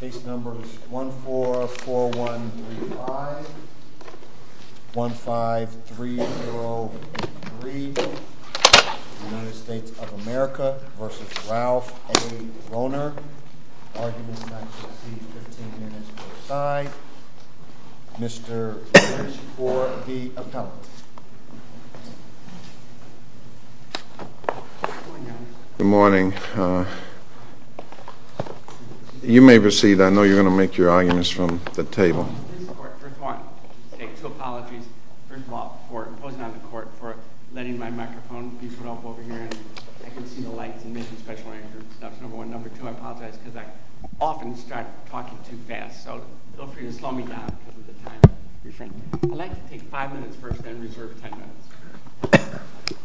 15303, United States of America v. Ralph A. Rohner. Arguments shall be 15 minutes per side. Mr. Lynch for the appellate. Good morning. You may proceed. I know you're going to make your arguments from the table.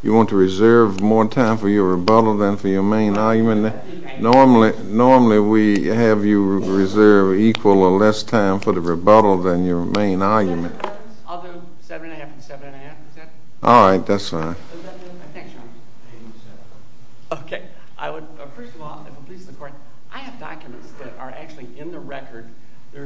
You want to reserve more time for your rebuttal than for your main argument? Normally we have you reserve equal or less time for the rebuttal than your main argument. I have documents that are actually in the record. I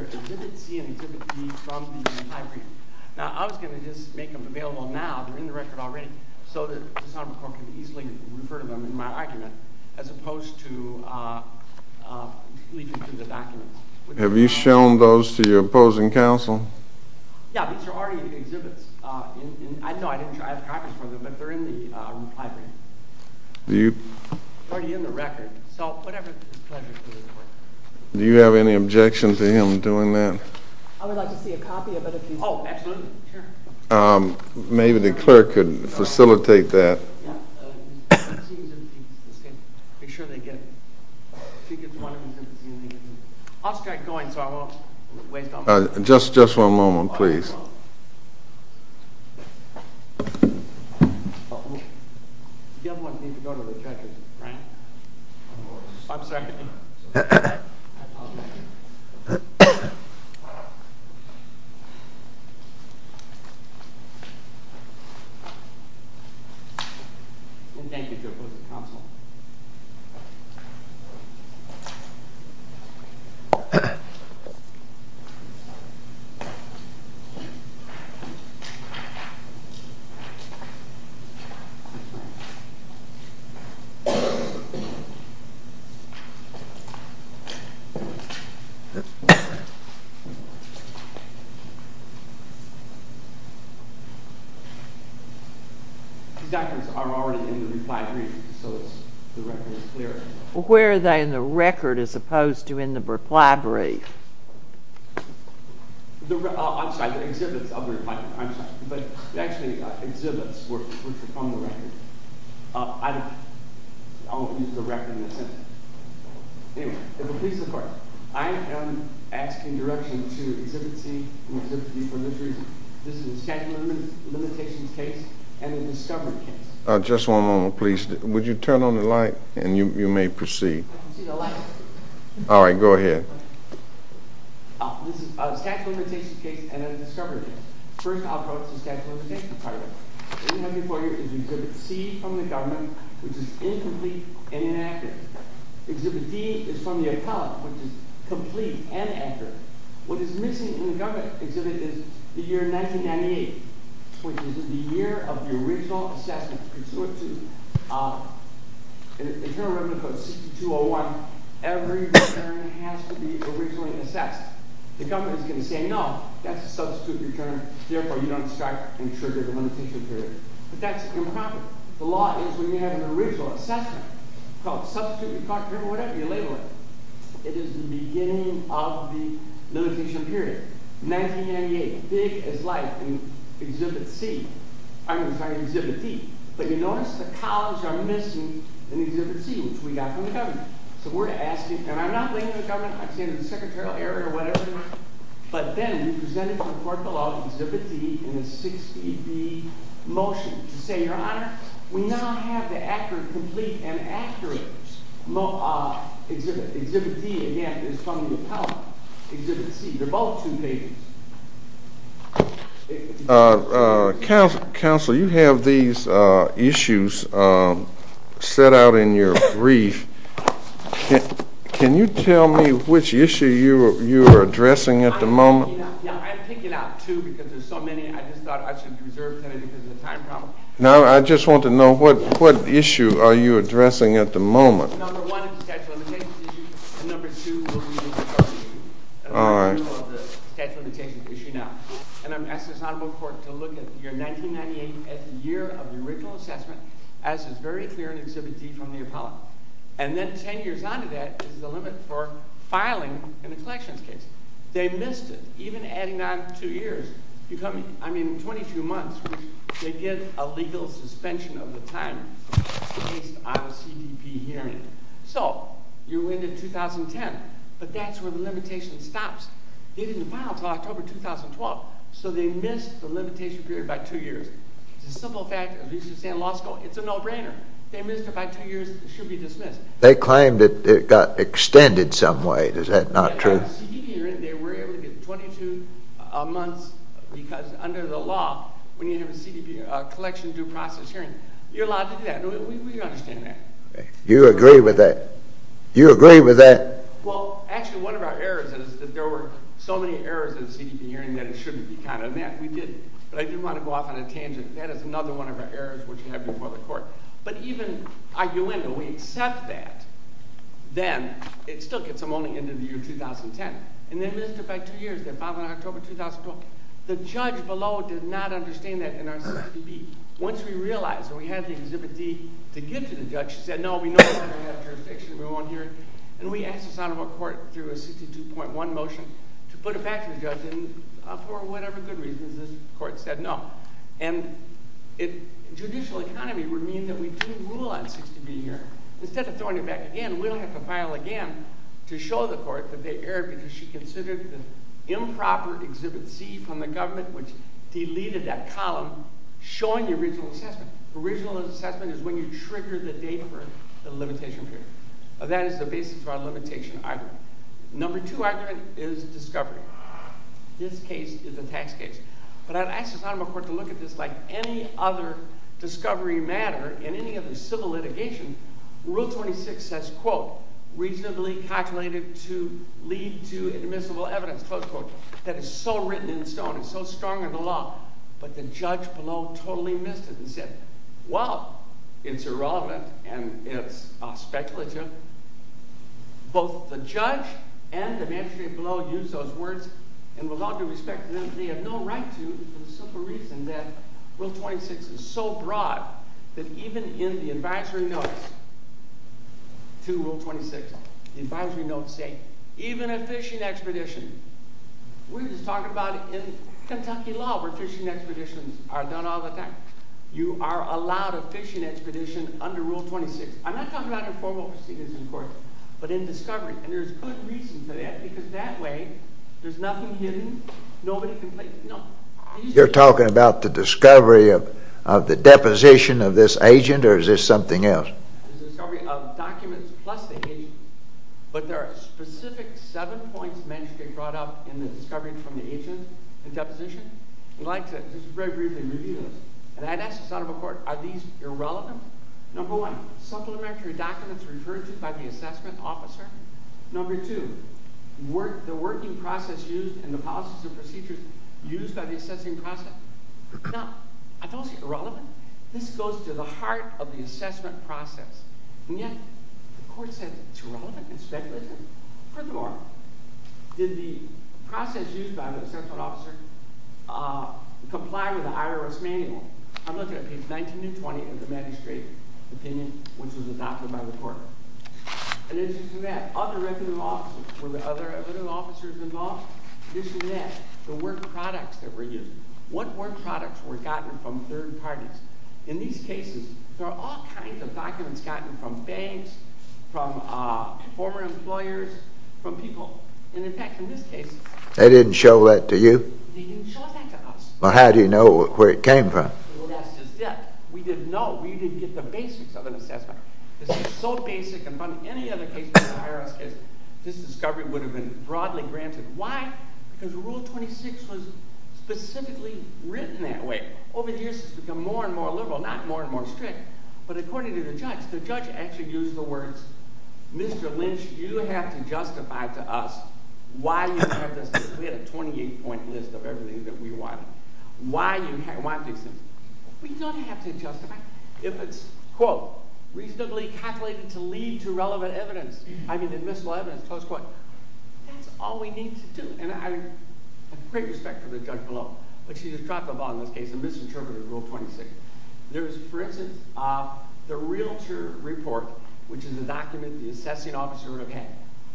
was going to just make them available now, but they're in the record already, so that the Sonoma Court can easily refer to them in my argument, as opposed to leaving them to the documents. Have you shown those to your opposing counsel? Do you have any objection to him doing that? Maybe the clerk could facilitate that. I'll start going, so I won't waste all my time. Just one moment, please. Thank you, opposing counsel. These documents are already in the reply brief. Where are they in the record, as opposed to in the reply brief? I'm sorry, the exhibits are in the reply brief. I am asking direction to Exhibit C and Exhibit D for this reason. This is a statute of limitations case and a discovery case. Just one moment, please. Would you turn on the light, and you may proceed. I can see the light. All right, go ahead. This is a statute of limitations case and a discovery case. First, I'll go to the statute of limitations part. What you have before you is Exhibit C from the government, which is incomplete and inaccurate. Exhibit D is from the appellate, which is complete and accurate. What is missing in the government exhibit is the year 1998, which is the year of the original assessment pursuant to Internal Revenue Code 6201. Every return has to be originally assessed. The government is going to say, no, that's a substitute return. Therefore, you don't start and trigger the monetization period. But that's improper. The law is when you have an original assessment called substitute return or whatever you label it. It is the beginning of the monetization period. 1998, big as life in Exhibit D. But you notice the columns are missing in Exhibit C, which we got from the government. So we're asking, and I'm not blaming the government. I'm saying the secretarial error or whatever. But then we presented to the court the law of Exhibit D and the 680B motion to say, Your Honor, we now have the accurate, complete, and accurate exhibit. Exhibit D, again, is from the appellate. Exhibit C, they're both two pages. Counselor, you have these issues set out in your brief. Can you tell me which issue you are addressing at the moment? I picked it out, too, because there's so many. I just thought I should reserve time because of the time problem. No, I just want to know what issue are you addressing at the moment? Number one is the statute of limitations issue. And number two will be the deferred issue. All right. And I'm asking this Honorable Court to look at your 1998th year of the original assessment as is very clear in Exhibit D from the appellate. And then 10 years on to that is the limit for filing in a collections case. They missed it, even adding on two years. I mean, 22 months, which they did a legal suspension of the time based on a CDP hearing. So you went into 2010, but that's where the limitation stops. They didn't file until October 2012, so they missed the limitation period by two years. It's a simple fact, at least in law school, it's a no-brainer. They missed it by two years. It should be dismissed. They claimed it got extended some way. Is that not true? They were able to get 22 months because under the law, when you have a CDP collection due process hearing, you're allowed to do that. We understand that. You agree with that? You agree with that? Well, actually, one of our errors is that there were so many errors in the CDP hearing that it shouldn't be counted. And that we didn't. But I do want to go off on a tangent. That is another one of our errors, which we have before the court. But even arguably, when we accept that, then it still gets them only into the year 2010. And they missed it by two years, their filing in October 2012. The judge below did not understand that in our CDP. Once we realized and we had the Exhibit D to give to the judge, she said, no, we know we're going to have jurisdiction. We won't hear it. And we asked the Sonoma Court, through a 62.1 motion, to put it back to the judge. And for whatever good reasons, this court said no. And judicial economy would mean that we do rule on CDP hearing. Instead of throwing it back again, we don't have to file again to show the court that they erred because she considered the improper Exhibit C from the government, which deleted that column showing the original assessment. The original assessment is when you trigger the date for the limitation period. That is the basis of our limitation argument. Number two argument is discovery. This case is a tax case. But I've asked the Sonoma Court to look at this like any other discovery matter in any other civil litigation. Rule 26 says, quote, reasonably calculated to lead to admissible evidence, close quote, that is so written in stone and so strong in the law, but the judge below totally missed it and said, well, it's irrelevant and it's speculative. Both the judge and the magistrate below used those words and would love to respect them, but they have no right to for the simple reason that Rule 26 is so broad that even in the advisory notes to Rule 26, the advisory notes say, even a fishing expedition, we're just talking about in Kentucky law where fishing expeditions are done all the time. You are allowed a fishing expedition under Rule 26. I'm not talking about informal proceedings in court, but in discovery. And there's good reason for that because that way there's nothing hidden, nobody can play. No. You're talking about the discovery of the deposition of this agent or is this something else? There's a discovery of documents plus the agent, but there are specific seven points mentioned and brought up in the discovery from the agent and deposition. I'd like to just very briefly review this. And I'd ask the son of a court, are these irrelevant? Number one, supplementary documents referred to by the assessment officer. Number two, the working process used and the policies and procedures used by the assessing process. Now, are those irrelevant? This goes to the heart of the assessment process. And yet the court said it's irrelevant, it's speculative. First of all, did the process used by the assessment officer comply with the IRS manual? I'm looking at page 19 to 20 of the magistrate opinion, which was adopted by the court. In addition to that, other records of officers. Were there other records of officers involved? In addition to that, the work products that were used. What work products were gotten from third parties? In these cases, there are all kinds of documents gotten from banks, from former employers, from people. And, in fact, in this case. They didn't show that to you? They didn't show that to us. Well, how do you know where it came from? Well, that's just it. We didn't know. We didn't get the basics of an assessment. This is so basic and funny. Any other case with the IRS case, this discovery would have been broadly granted. Why? Because Rule 26 was specifically written that way. Over the years, it's become more and more liberal, not more and more strict. But, according to the judge, the judge actually used the words, Mr. Lynch, you have to justify to us why you have this. We had a 28-point list of everything that we wanted. Why you want these things. We don't have to justify. If it's, quote, reasonably calculated to lead to relevant evidence. I mean, admissible evidence, close quote. That's all we need to do. And I have great respect for the judge below. But she just dropped the ball in this case and misinterpreted Rule 26. There's, for instance, the realtor report, which is a document the assessing officer would have had.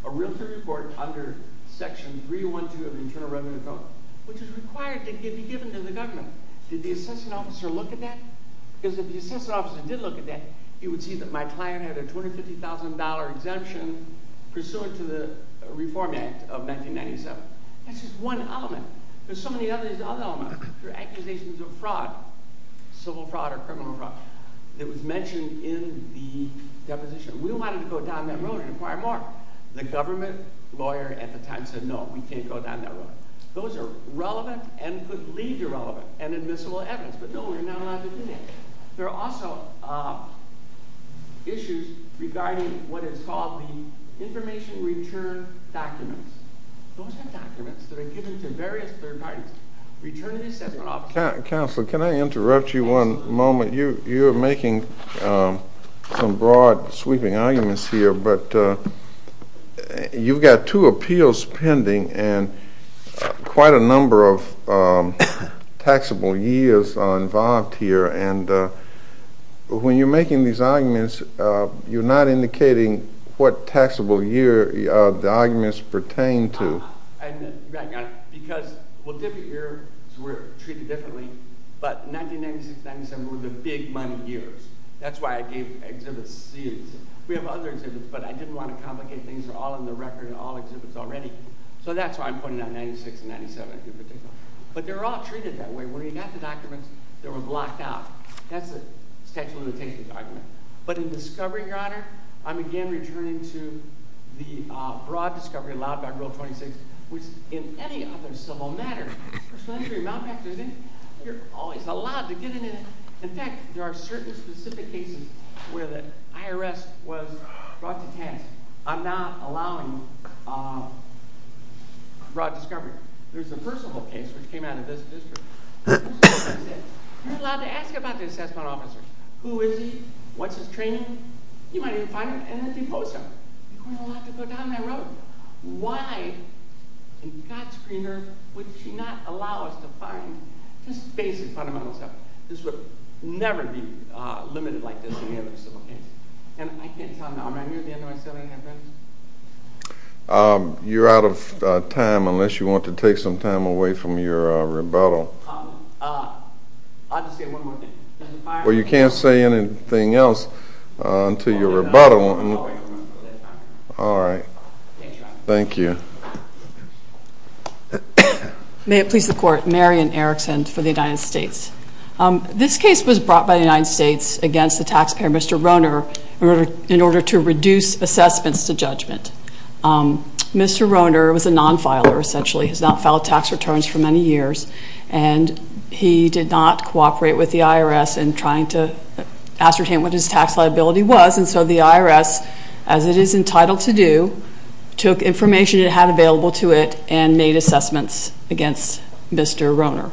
A realtor report under Section 312 of the Internal Revenue Code, which is required to be given to the government. Did the assessing officer look at that? Because if the assessing officer did look at that, he would see that my client had a $250,000 exemption pursuant to the Reform Act of 1997. That's just one element. There's so many other elements. There are accusations of fraud, civil fraud or criminal fraud, that was mentioned in the deposition. We wanted to go down that road and inquire more. The government lawyer at the time said, no, we can't go down that road. Those are relevant and could lead to relevant and admissible evidence. But no, we're not allowed to do that. There are also issues regarding what is called the information return documents. Those are documents that are given to various third parties. Return to the assessing officer. Counselor, can I interrupt you one moment? You're making some broad, sweeping arguments here. You've got two appeals pending and quite a number of taxable years are involved here. When you're making these arguments, you're not indicating what taxable year the arguments pertain to. We're treated differently, but 1996-97 were the big money years. That's why I gave exhibits. We have other exhibits, but I didn't want to complicate things. They're all in the record in all exhibits already. So that's why I'm pointing out 1996-97 in particular. But they're all treated that way. When you got the documents, they were blocked out. That's a statute of limitations argument. But in discovery, Your Honor, I'm again returning to the broad discovery allowed by Rule 26, which in any other civil matter, first century, Mount Peck, you're always allowed to get in it. In fact, there are certain specific cases where the IRS was brought to task on not allowing broad discovery. There's the Percival case, which came out of this district. You're allowed to ask about the assessment officers. Who is he? What's his training? You might even find him in a depot somewhere. You don't have to go down that road. Why in God's green earth would she not allow us to find just basic fundamental stuff? This would never be limited like this in any other civil case. And I can't tell you now. Am I near the end of my seven-year sentence? You're out of time unless you want to take some time away from your rebuttal. I'll just say one more thing. Well, you can't say anything else until your rebuttal. All right. Thank you, Your Honor. Thank you. May it please the Court. Marian Erickson for the United States. This case was brought by the United States against the taxpayer, Mr. Roehner, in order to reduce assessments to judgment. Mr. Roehner was a non-filer, essentially. He's not filed tax returns for many years. And he did not cooperate with the IRS in trying to ascertain what his tax liability was. And so the IRS, as it is entitled to do, took information it had available to it and made assessments against Mr. Roehner.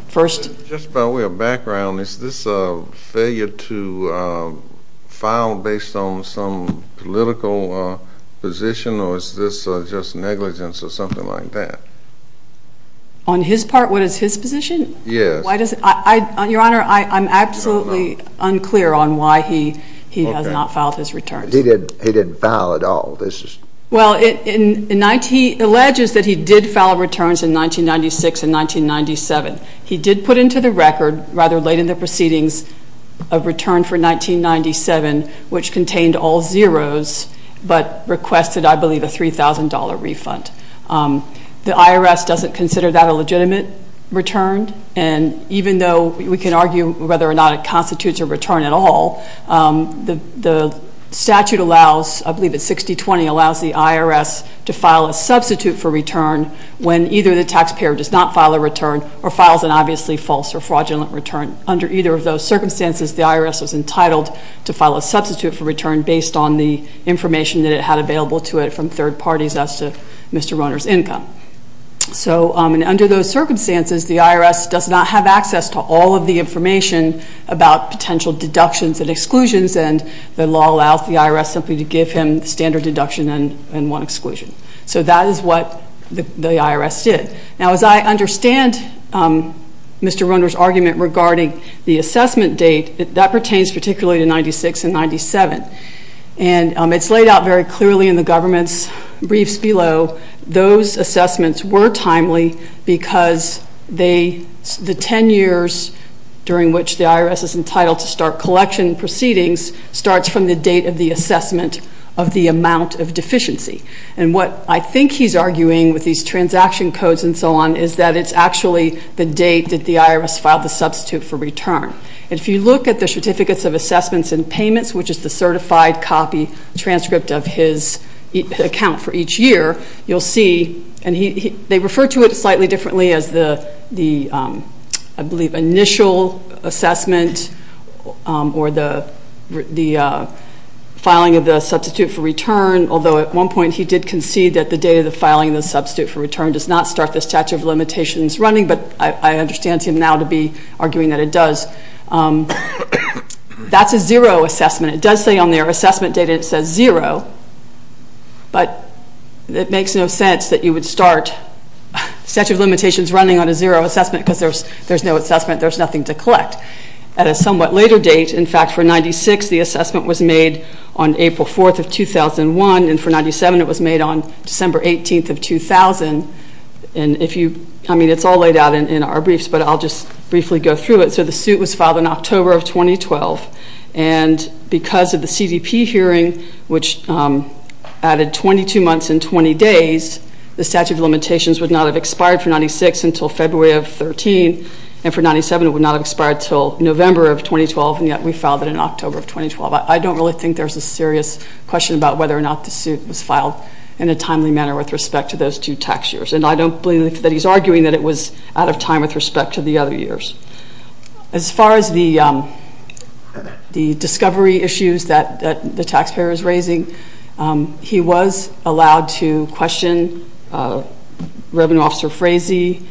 Just by way of background, is this a failure to file based on some political position, or is this just negligence or something like that? On his part, what is his position? Yes. Your Honor, I'm absolutely unclear on why he has not filed his returns. He didn't file at all. Well, he alleges that he did file returns in 1996 and 1997. He did put into the record, rather late in the proceedings, a return for 1997 which contained all zeros but requested, I believe, a $3,000 refund. The IRS doesn't consider that a legitimate return. And even though we can argue whether or not it constitutes a return at all, the statute allows, I believe it's 6020, allows the IRS to file a substitute for return when either the taxpayer does not file a return or files an obviously false or fraudulent return. Under either of those circumstances, the IRS was entitled to file a substitute for return based on the information that it had available to it from third parties as to Mr. Roehner's income. So under those circumstances, the IRS does not have access to all of the information about potential deductions and exclusions, and the law allows the IRS simply to give him the standard deduction and one exclusion. So that is what the IRS did. Now, as I understand Mr. Roehner's argument regarding the assessment date, that pertains particularly to 1996 and 1997. And it's laid out very clearly in the government's briefs below. Those assessments were timely because the 10 years during which the IRS is entitled to start collection proceedings starts from the date of the assessment of the amount of deficiency. And what I think he's arguing with these transaction codes and so on is that it's actually the date that the IRS filed the substitute for return. And if you look at the certificates of assessments and payments, which is the certified copy transcript of his account for each year, you'll see, and they refer to it slightly differently as the, I believe, initial assessment or the filing of the substitute for return, although at one point he did concede that the date of the filing of the substitute for return does not start the statute of limitations running, but I understand him now to be arguing that it does. That's a zero assessment. It does say on their assessment data it says zero, but it makes no sense that you would start the statute of limitations running on a zero assessment because there's no assessment, there's nothing to collect. At a somewhat later date, in fact, for 96 the assessment was made on April 4th of 2001, and for 97 it was made on December 18th of 2000. And if you, I mean, it's all laid out in our briefs, but I'll just briefly go through it. So the suit was filed in October of 2012, and because of the CDP hearing, which added 22 months and 20 days, the statute of limitations would not have expired for 96 until February of 13, and for 97 it would not have expired until November of 2012, and yet we filed it in October of 2012. I don't really think there's a serious question about whether or not the suit was filed in a timely manner with respect to those two tax years, and I don't believe that he's arguing that it was out of time with respect to the other years. As far as the discovery issues that the taxpayer is raising, he was allowed to question Reverend Officer Frazee.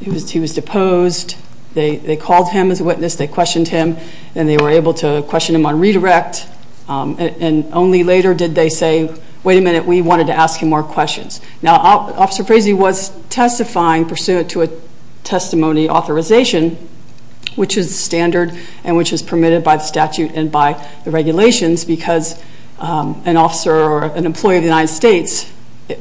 He was deposed. They called him as a witness, they questioned him, and they were able to question him on redirect, and only later did they say, wait a minute, we wanted to ask him more questions. Now, Officer Frazee was testifying pursuant to a testimony authorization, which is standard and which is permitted by the statute and by the regulations because an officer or an employee of the United States,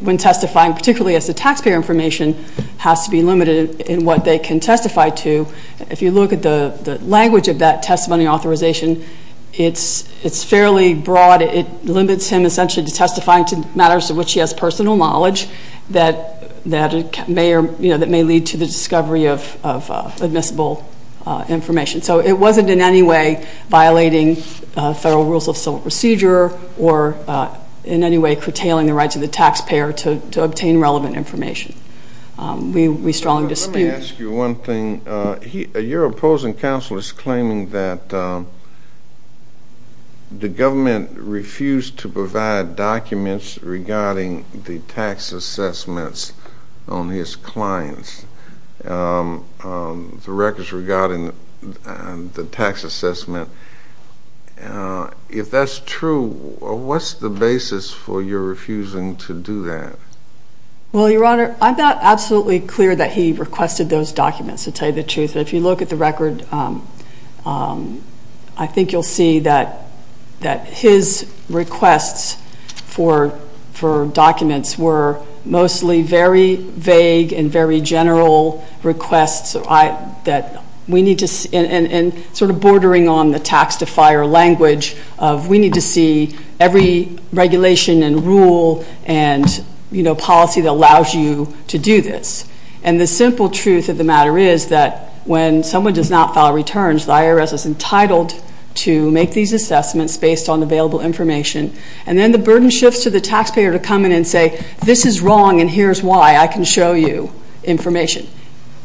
when testifying, particularly as to taxpayer information, has to be limited in what they can testify to. If you look at the language of that testimony authorization, it's fairly broad. It limits him essentially to testifying to matters to which he has personal knowledge that may lead to the discovery of admissible information. So it wasn't in any way violating federal rules of civil procedure or in any way curtailing the rights of the taxpayer to obtain relevant information. We strongly dispute. Let me ask you one thing. Your opposing counsel is claiming that the government refused to provide documents regarding the tax assessments on his clients, the records regarding the tax assessment. If that's true, what's the basis for your refusing to do that? Well, Your Honor, I'm not absolutely clear that he requested those documents to tell you the truth, but if you look at the record, I think you'll see that his requests for documents were mostly very vague and very general requests that we need to see, and sort of bordering on the tax defier language of we need to see every regulation and rule and policy that allows you to do this. And the simple truth of the matter is that when someone does not file returns, the IRS is entitled to make these assessments based on available information, and then the burden shifts to the taxpayer to come in and say this is wrong and here's why. I can show you information.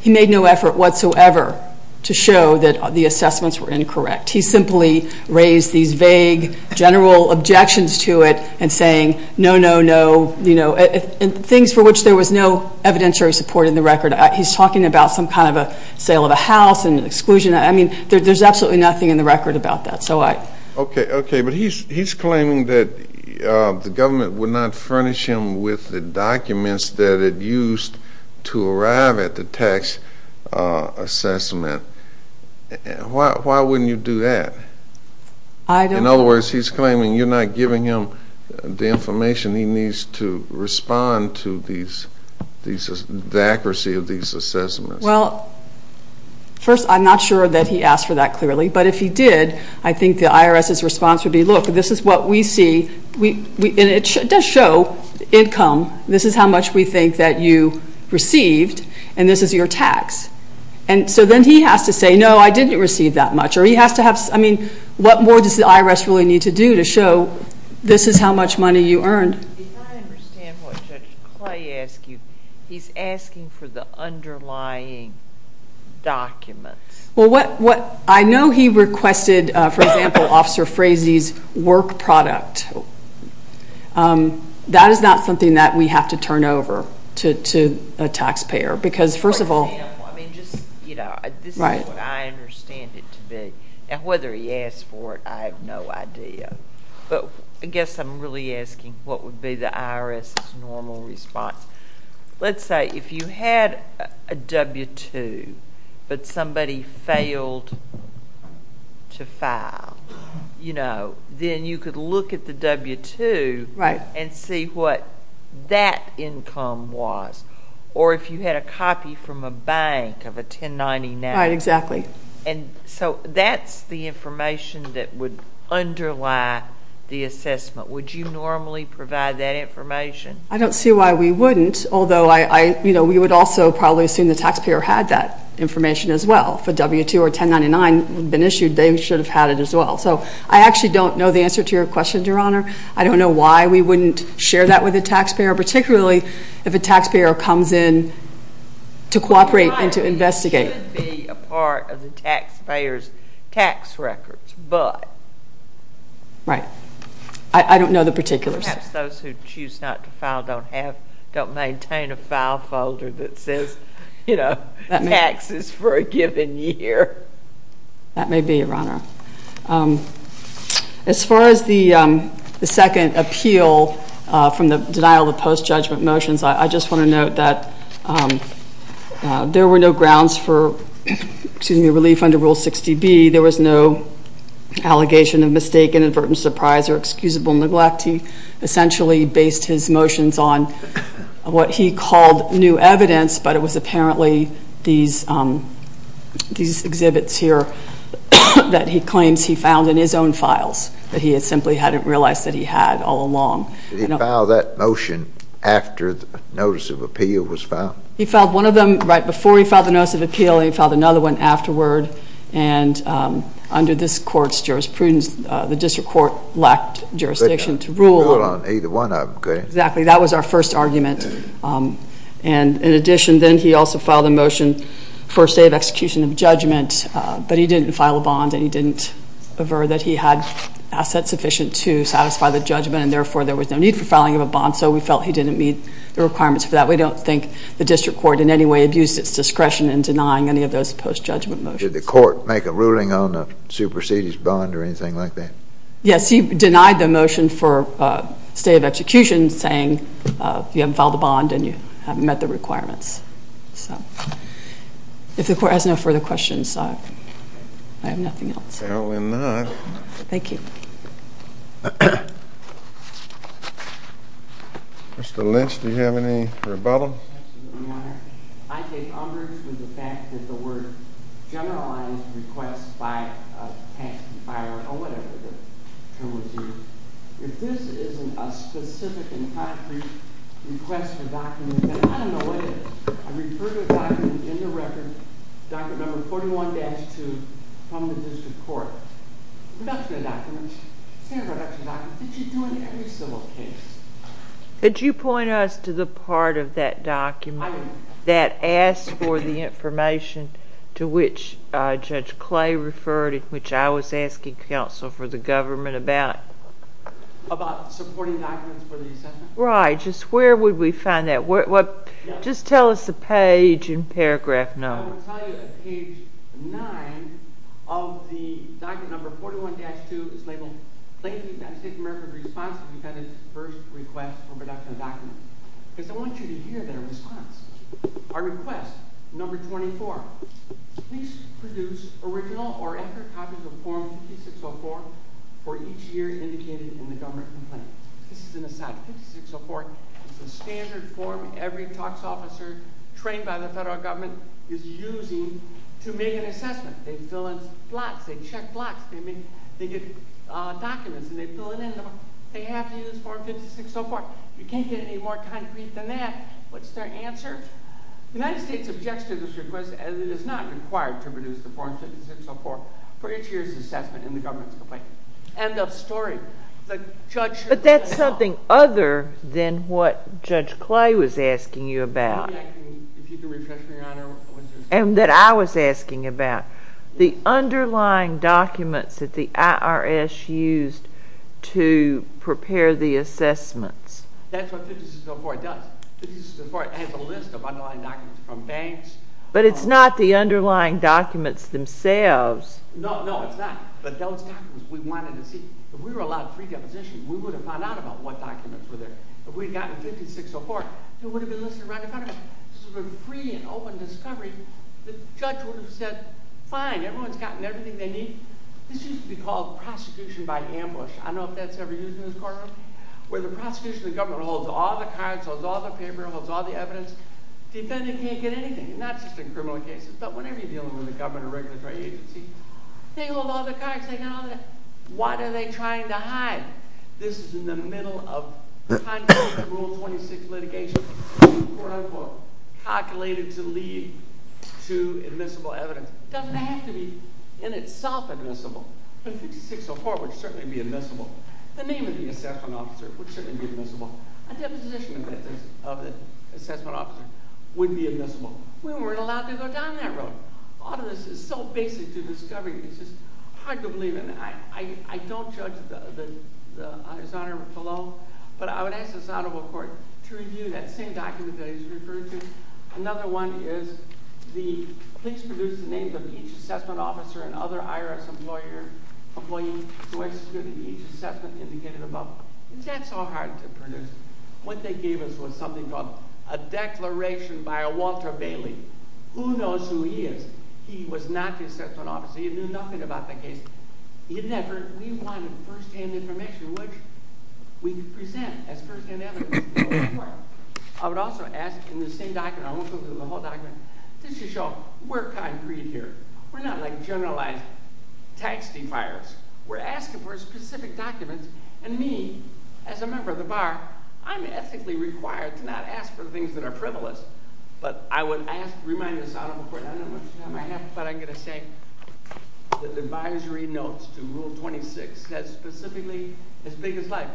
He made no effort whatsoever to show that the assessments were incorrect. He simply raised these vague general objections to it and saying no, no, no, and things for which there was no evidentiary support in the record. He's talking about some kind of a sale of a house and exclusion. I mean, there's absolutely nothing in the record about that. Okay, okay, but he's claiming that the government would not furnish him with the documents that it used to arrive at the tax assessment. Why wouldn't you do that? In other words, he's claiming you're not giving him the information he needs to respond to the accuracy of these assessments. Well, first, I'm not sure that he asked for that clearly, but if he did, I think the IRS's response would be, look, this is what we see, and it does show income. This is how much we think that you received, and this is your tax. And so then he has to say, no, I didn't receive that much. Or he has to have, I mean, what more does the IRS really need to do to show this is how much money you earned? If I understand what Judge Clay asked you, he's asking for the underlying documents. Well, what I know he requested, for example, Officer Frazee's work product. That is not something that we have to turn over to a taxpayer because, first of all, this is what I understand it to be. Now, whether he asked for it, I have no idea. But I guess I'm really asking what would be the IRS's normal response. Let's say if you had a W-2, but somebody failed to file, then you could look at the W-2 and see what that income was. Or if you had a copy from a bank of a 1099. Right, exactly. And so that's the information that would underlie the assessment. Would you normally provide that information? I don't see why we wouldn't, although we would also probably assume the taxpayer had that information as well. If a W-2 or 1099 had been issued, they should have had it as well. So I actually don't know the answer to your question, Your Honor. I don't know why we wouldn't share that with a taxpayer, particularly if a taxpayer comes in to cooperate and to investigate. It should be a part of the taxpayer's tax records, but. Right. I don't know the particulars. Perhaps those who choose not to file don't maintain a file folder that says, you know, taxes for a given year. That may be, Your Honor. As far as the second appeal from the denial of post-judgment motions, I just want to note that there were no grounds for, excuse me, relief under Rule 60B. There was no allegation of mistake, inadvertent surprise, or excusable neglect. He essentially based his motions on what he called new evidence, but it was apparently these exhibits here that he claims he found in his own files that he had simply hadn't realized that he had all along. Did he file that motion after the notice of appeal was filed? He filed one of them right before he filed the notice of appeal. He filed another one afterward, and under this court's jurisprudence, the district court lacked jurisdiction to rule on either one of them. Exactly. That was our first argument. And in addition, then he also filed a motion for a state of execution of judgment, but he didn't file a bond, and he didn't aver that he had assets sufficient to satisfy the judgment, and therefore there was no need for filing of a bond, so we felt he didn't meet the requirements for that. We don't think the district court in any way abused its discretion in denying any of those post-judgment motions. Did the court make a ruling on a superseded bond or anything like that? Yes, he denied the motion for state of execution, saying you haven't filed a bond and you haven't met the requirements. So if the court has no further questions, I have nothing else. Apparently not. Thank you. Mr. Lynch, do you have any rebuttal? Absolutely, Your Honor. I take umbrage with the fact that the word generalized request by a tax defiler or whatever the term would be. If this isn't a specific and concrete request for document, then I don't know what is. I refer to a document in the record, document number 41-2 from the district court. Production documents, standard production documents, did you do in every civil case? Could you point us to the part of that document that asked for the information to which Judge Clay referred, which I was asking counsel for the government about? About supporting documents for the assessment? Right, just where would we find that? Just tell us the page in paragraph 9. Your Honor, I will tell you that page 9 of the document number 41-2 is labeled, Thank you for the United States of America's response to the defendant's first request for production of documents. Because I want you to hear their response. Our request, number 24, please produce original or after copies of form 5604 for each year indicated in the government complaint. This is an aside, 5604 is the standard form every tax officer trained by the federal government is using to make an assessment. They fill in blocks, they check blocks, they get documents and they fill it in. They have to use form 5604. You can't get any more concrete than that. What's their answer? The United States objects to this request as it is not required to produce the form 5604 for each year's assessment in the government's complaint. End of story. But that's something other than what Judge Clay was asking you about. And that I was asking about. The underlying documents that the IRS used to prepare the assessments. That's what 5604 does. 5604 has a list of underlying documents from banks. But it's not the underlying documents themselves. No, no, it's not. But those documents we wanted to see. If we were allowed free deposition, we would have found out about what documents were there. If we had gotten 5604, it would have been listed right in front of us. This would have been a free and open discovery. The judge would have said, fine, everyone's gotten everything they need. This used to be called prosecution by ambush. I don't know if that's ever used in this courtroom. Where the prosecution of the government holds all the cards, holds all the papers, holds all the evidence. Defendant can't get anything. Not just in criminal cases, but whenever you're dealing with a government or regulatory agency. They hold all the cards, they got all the evidence. Why are they trying to hide? This is in the middle of, time quote, the Rule 26 litigation. Time quote, time quote. Calculated to lead to admissible evidence. Doesn't have to be in itself admissible. 5604 would certainly be admissible. The name of the assessment officer would certainly be admissible. A deposition of the assessment officer would be admissible. We weren't allowed to go down that road. All of this is so basic to discovery. It's just hard to believe. I don't judge his honor below. But I would ask the Southerville Court to review that same document that he's referring to. Another one is, the police produced the names of each assessment officer and other IRS employee That's so hard to produce. What they gave us was something called a declaration by a Walter Bailey. Who knows who he is? He was not the assessment officer. He knew nothing about the case. We wanted first-hand information which we could present as first-hand evidence to the court. I would also ask in the same document, I won't go through the whole document. Just to show we're concrete here. We're not like generalized tax defiers. We're asking for specific documents. And me, as a member of the bar, I'm ethically required to not ask for things that are frivolous. But I would remind the Southerville Court, I don't know how much time I have, but I'm going to say The advisory notes to Rule 26 says specifically as big as life.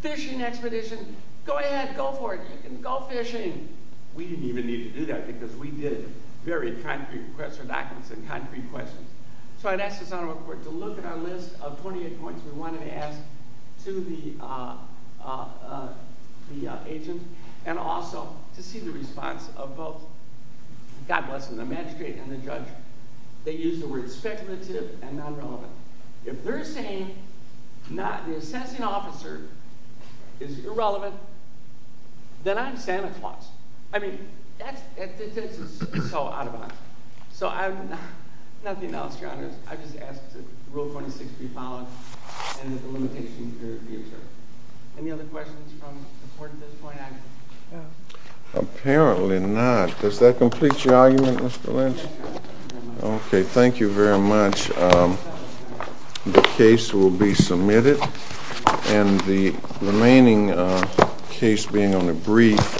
Fishing expedition, go ahead, go for it. You can go fishing. We didn't even need to do that because we did it. Very concrete questions. So I'd ask the Southerville Court to look at our list of 28 points. We wanted to ask to the agent and also to see the response of both, God bless them, the magistrate and the judge. They used the words speculative and non-relevant. If they're saying the assessing officer is irrelevant, then I'm Santa Claus. I mean, that's so out of bounds. So I have nothing else, Your Honors. I just ask that Rule 26 be followed and that the limitations be observed. Any other questions from the Court at this point? Apparently not. Does that complete your argument, Mr. Lynch? Okay, thank you very much. The case will be submitted. And the remaining case being on the brief.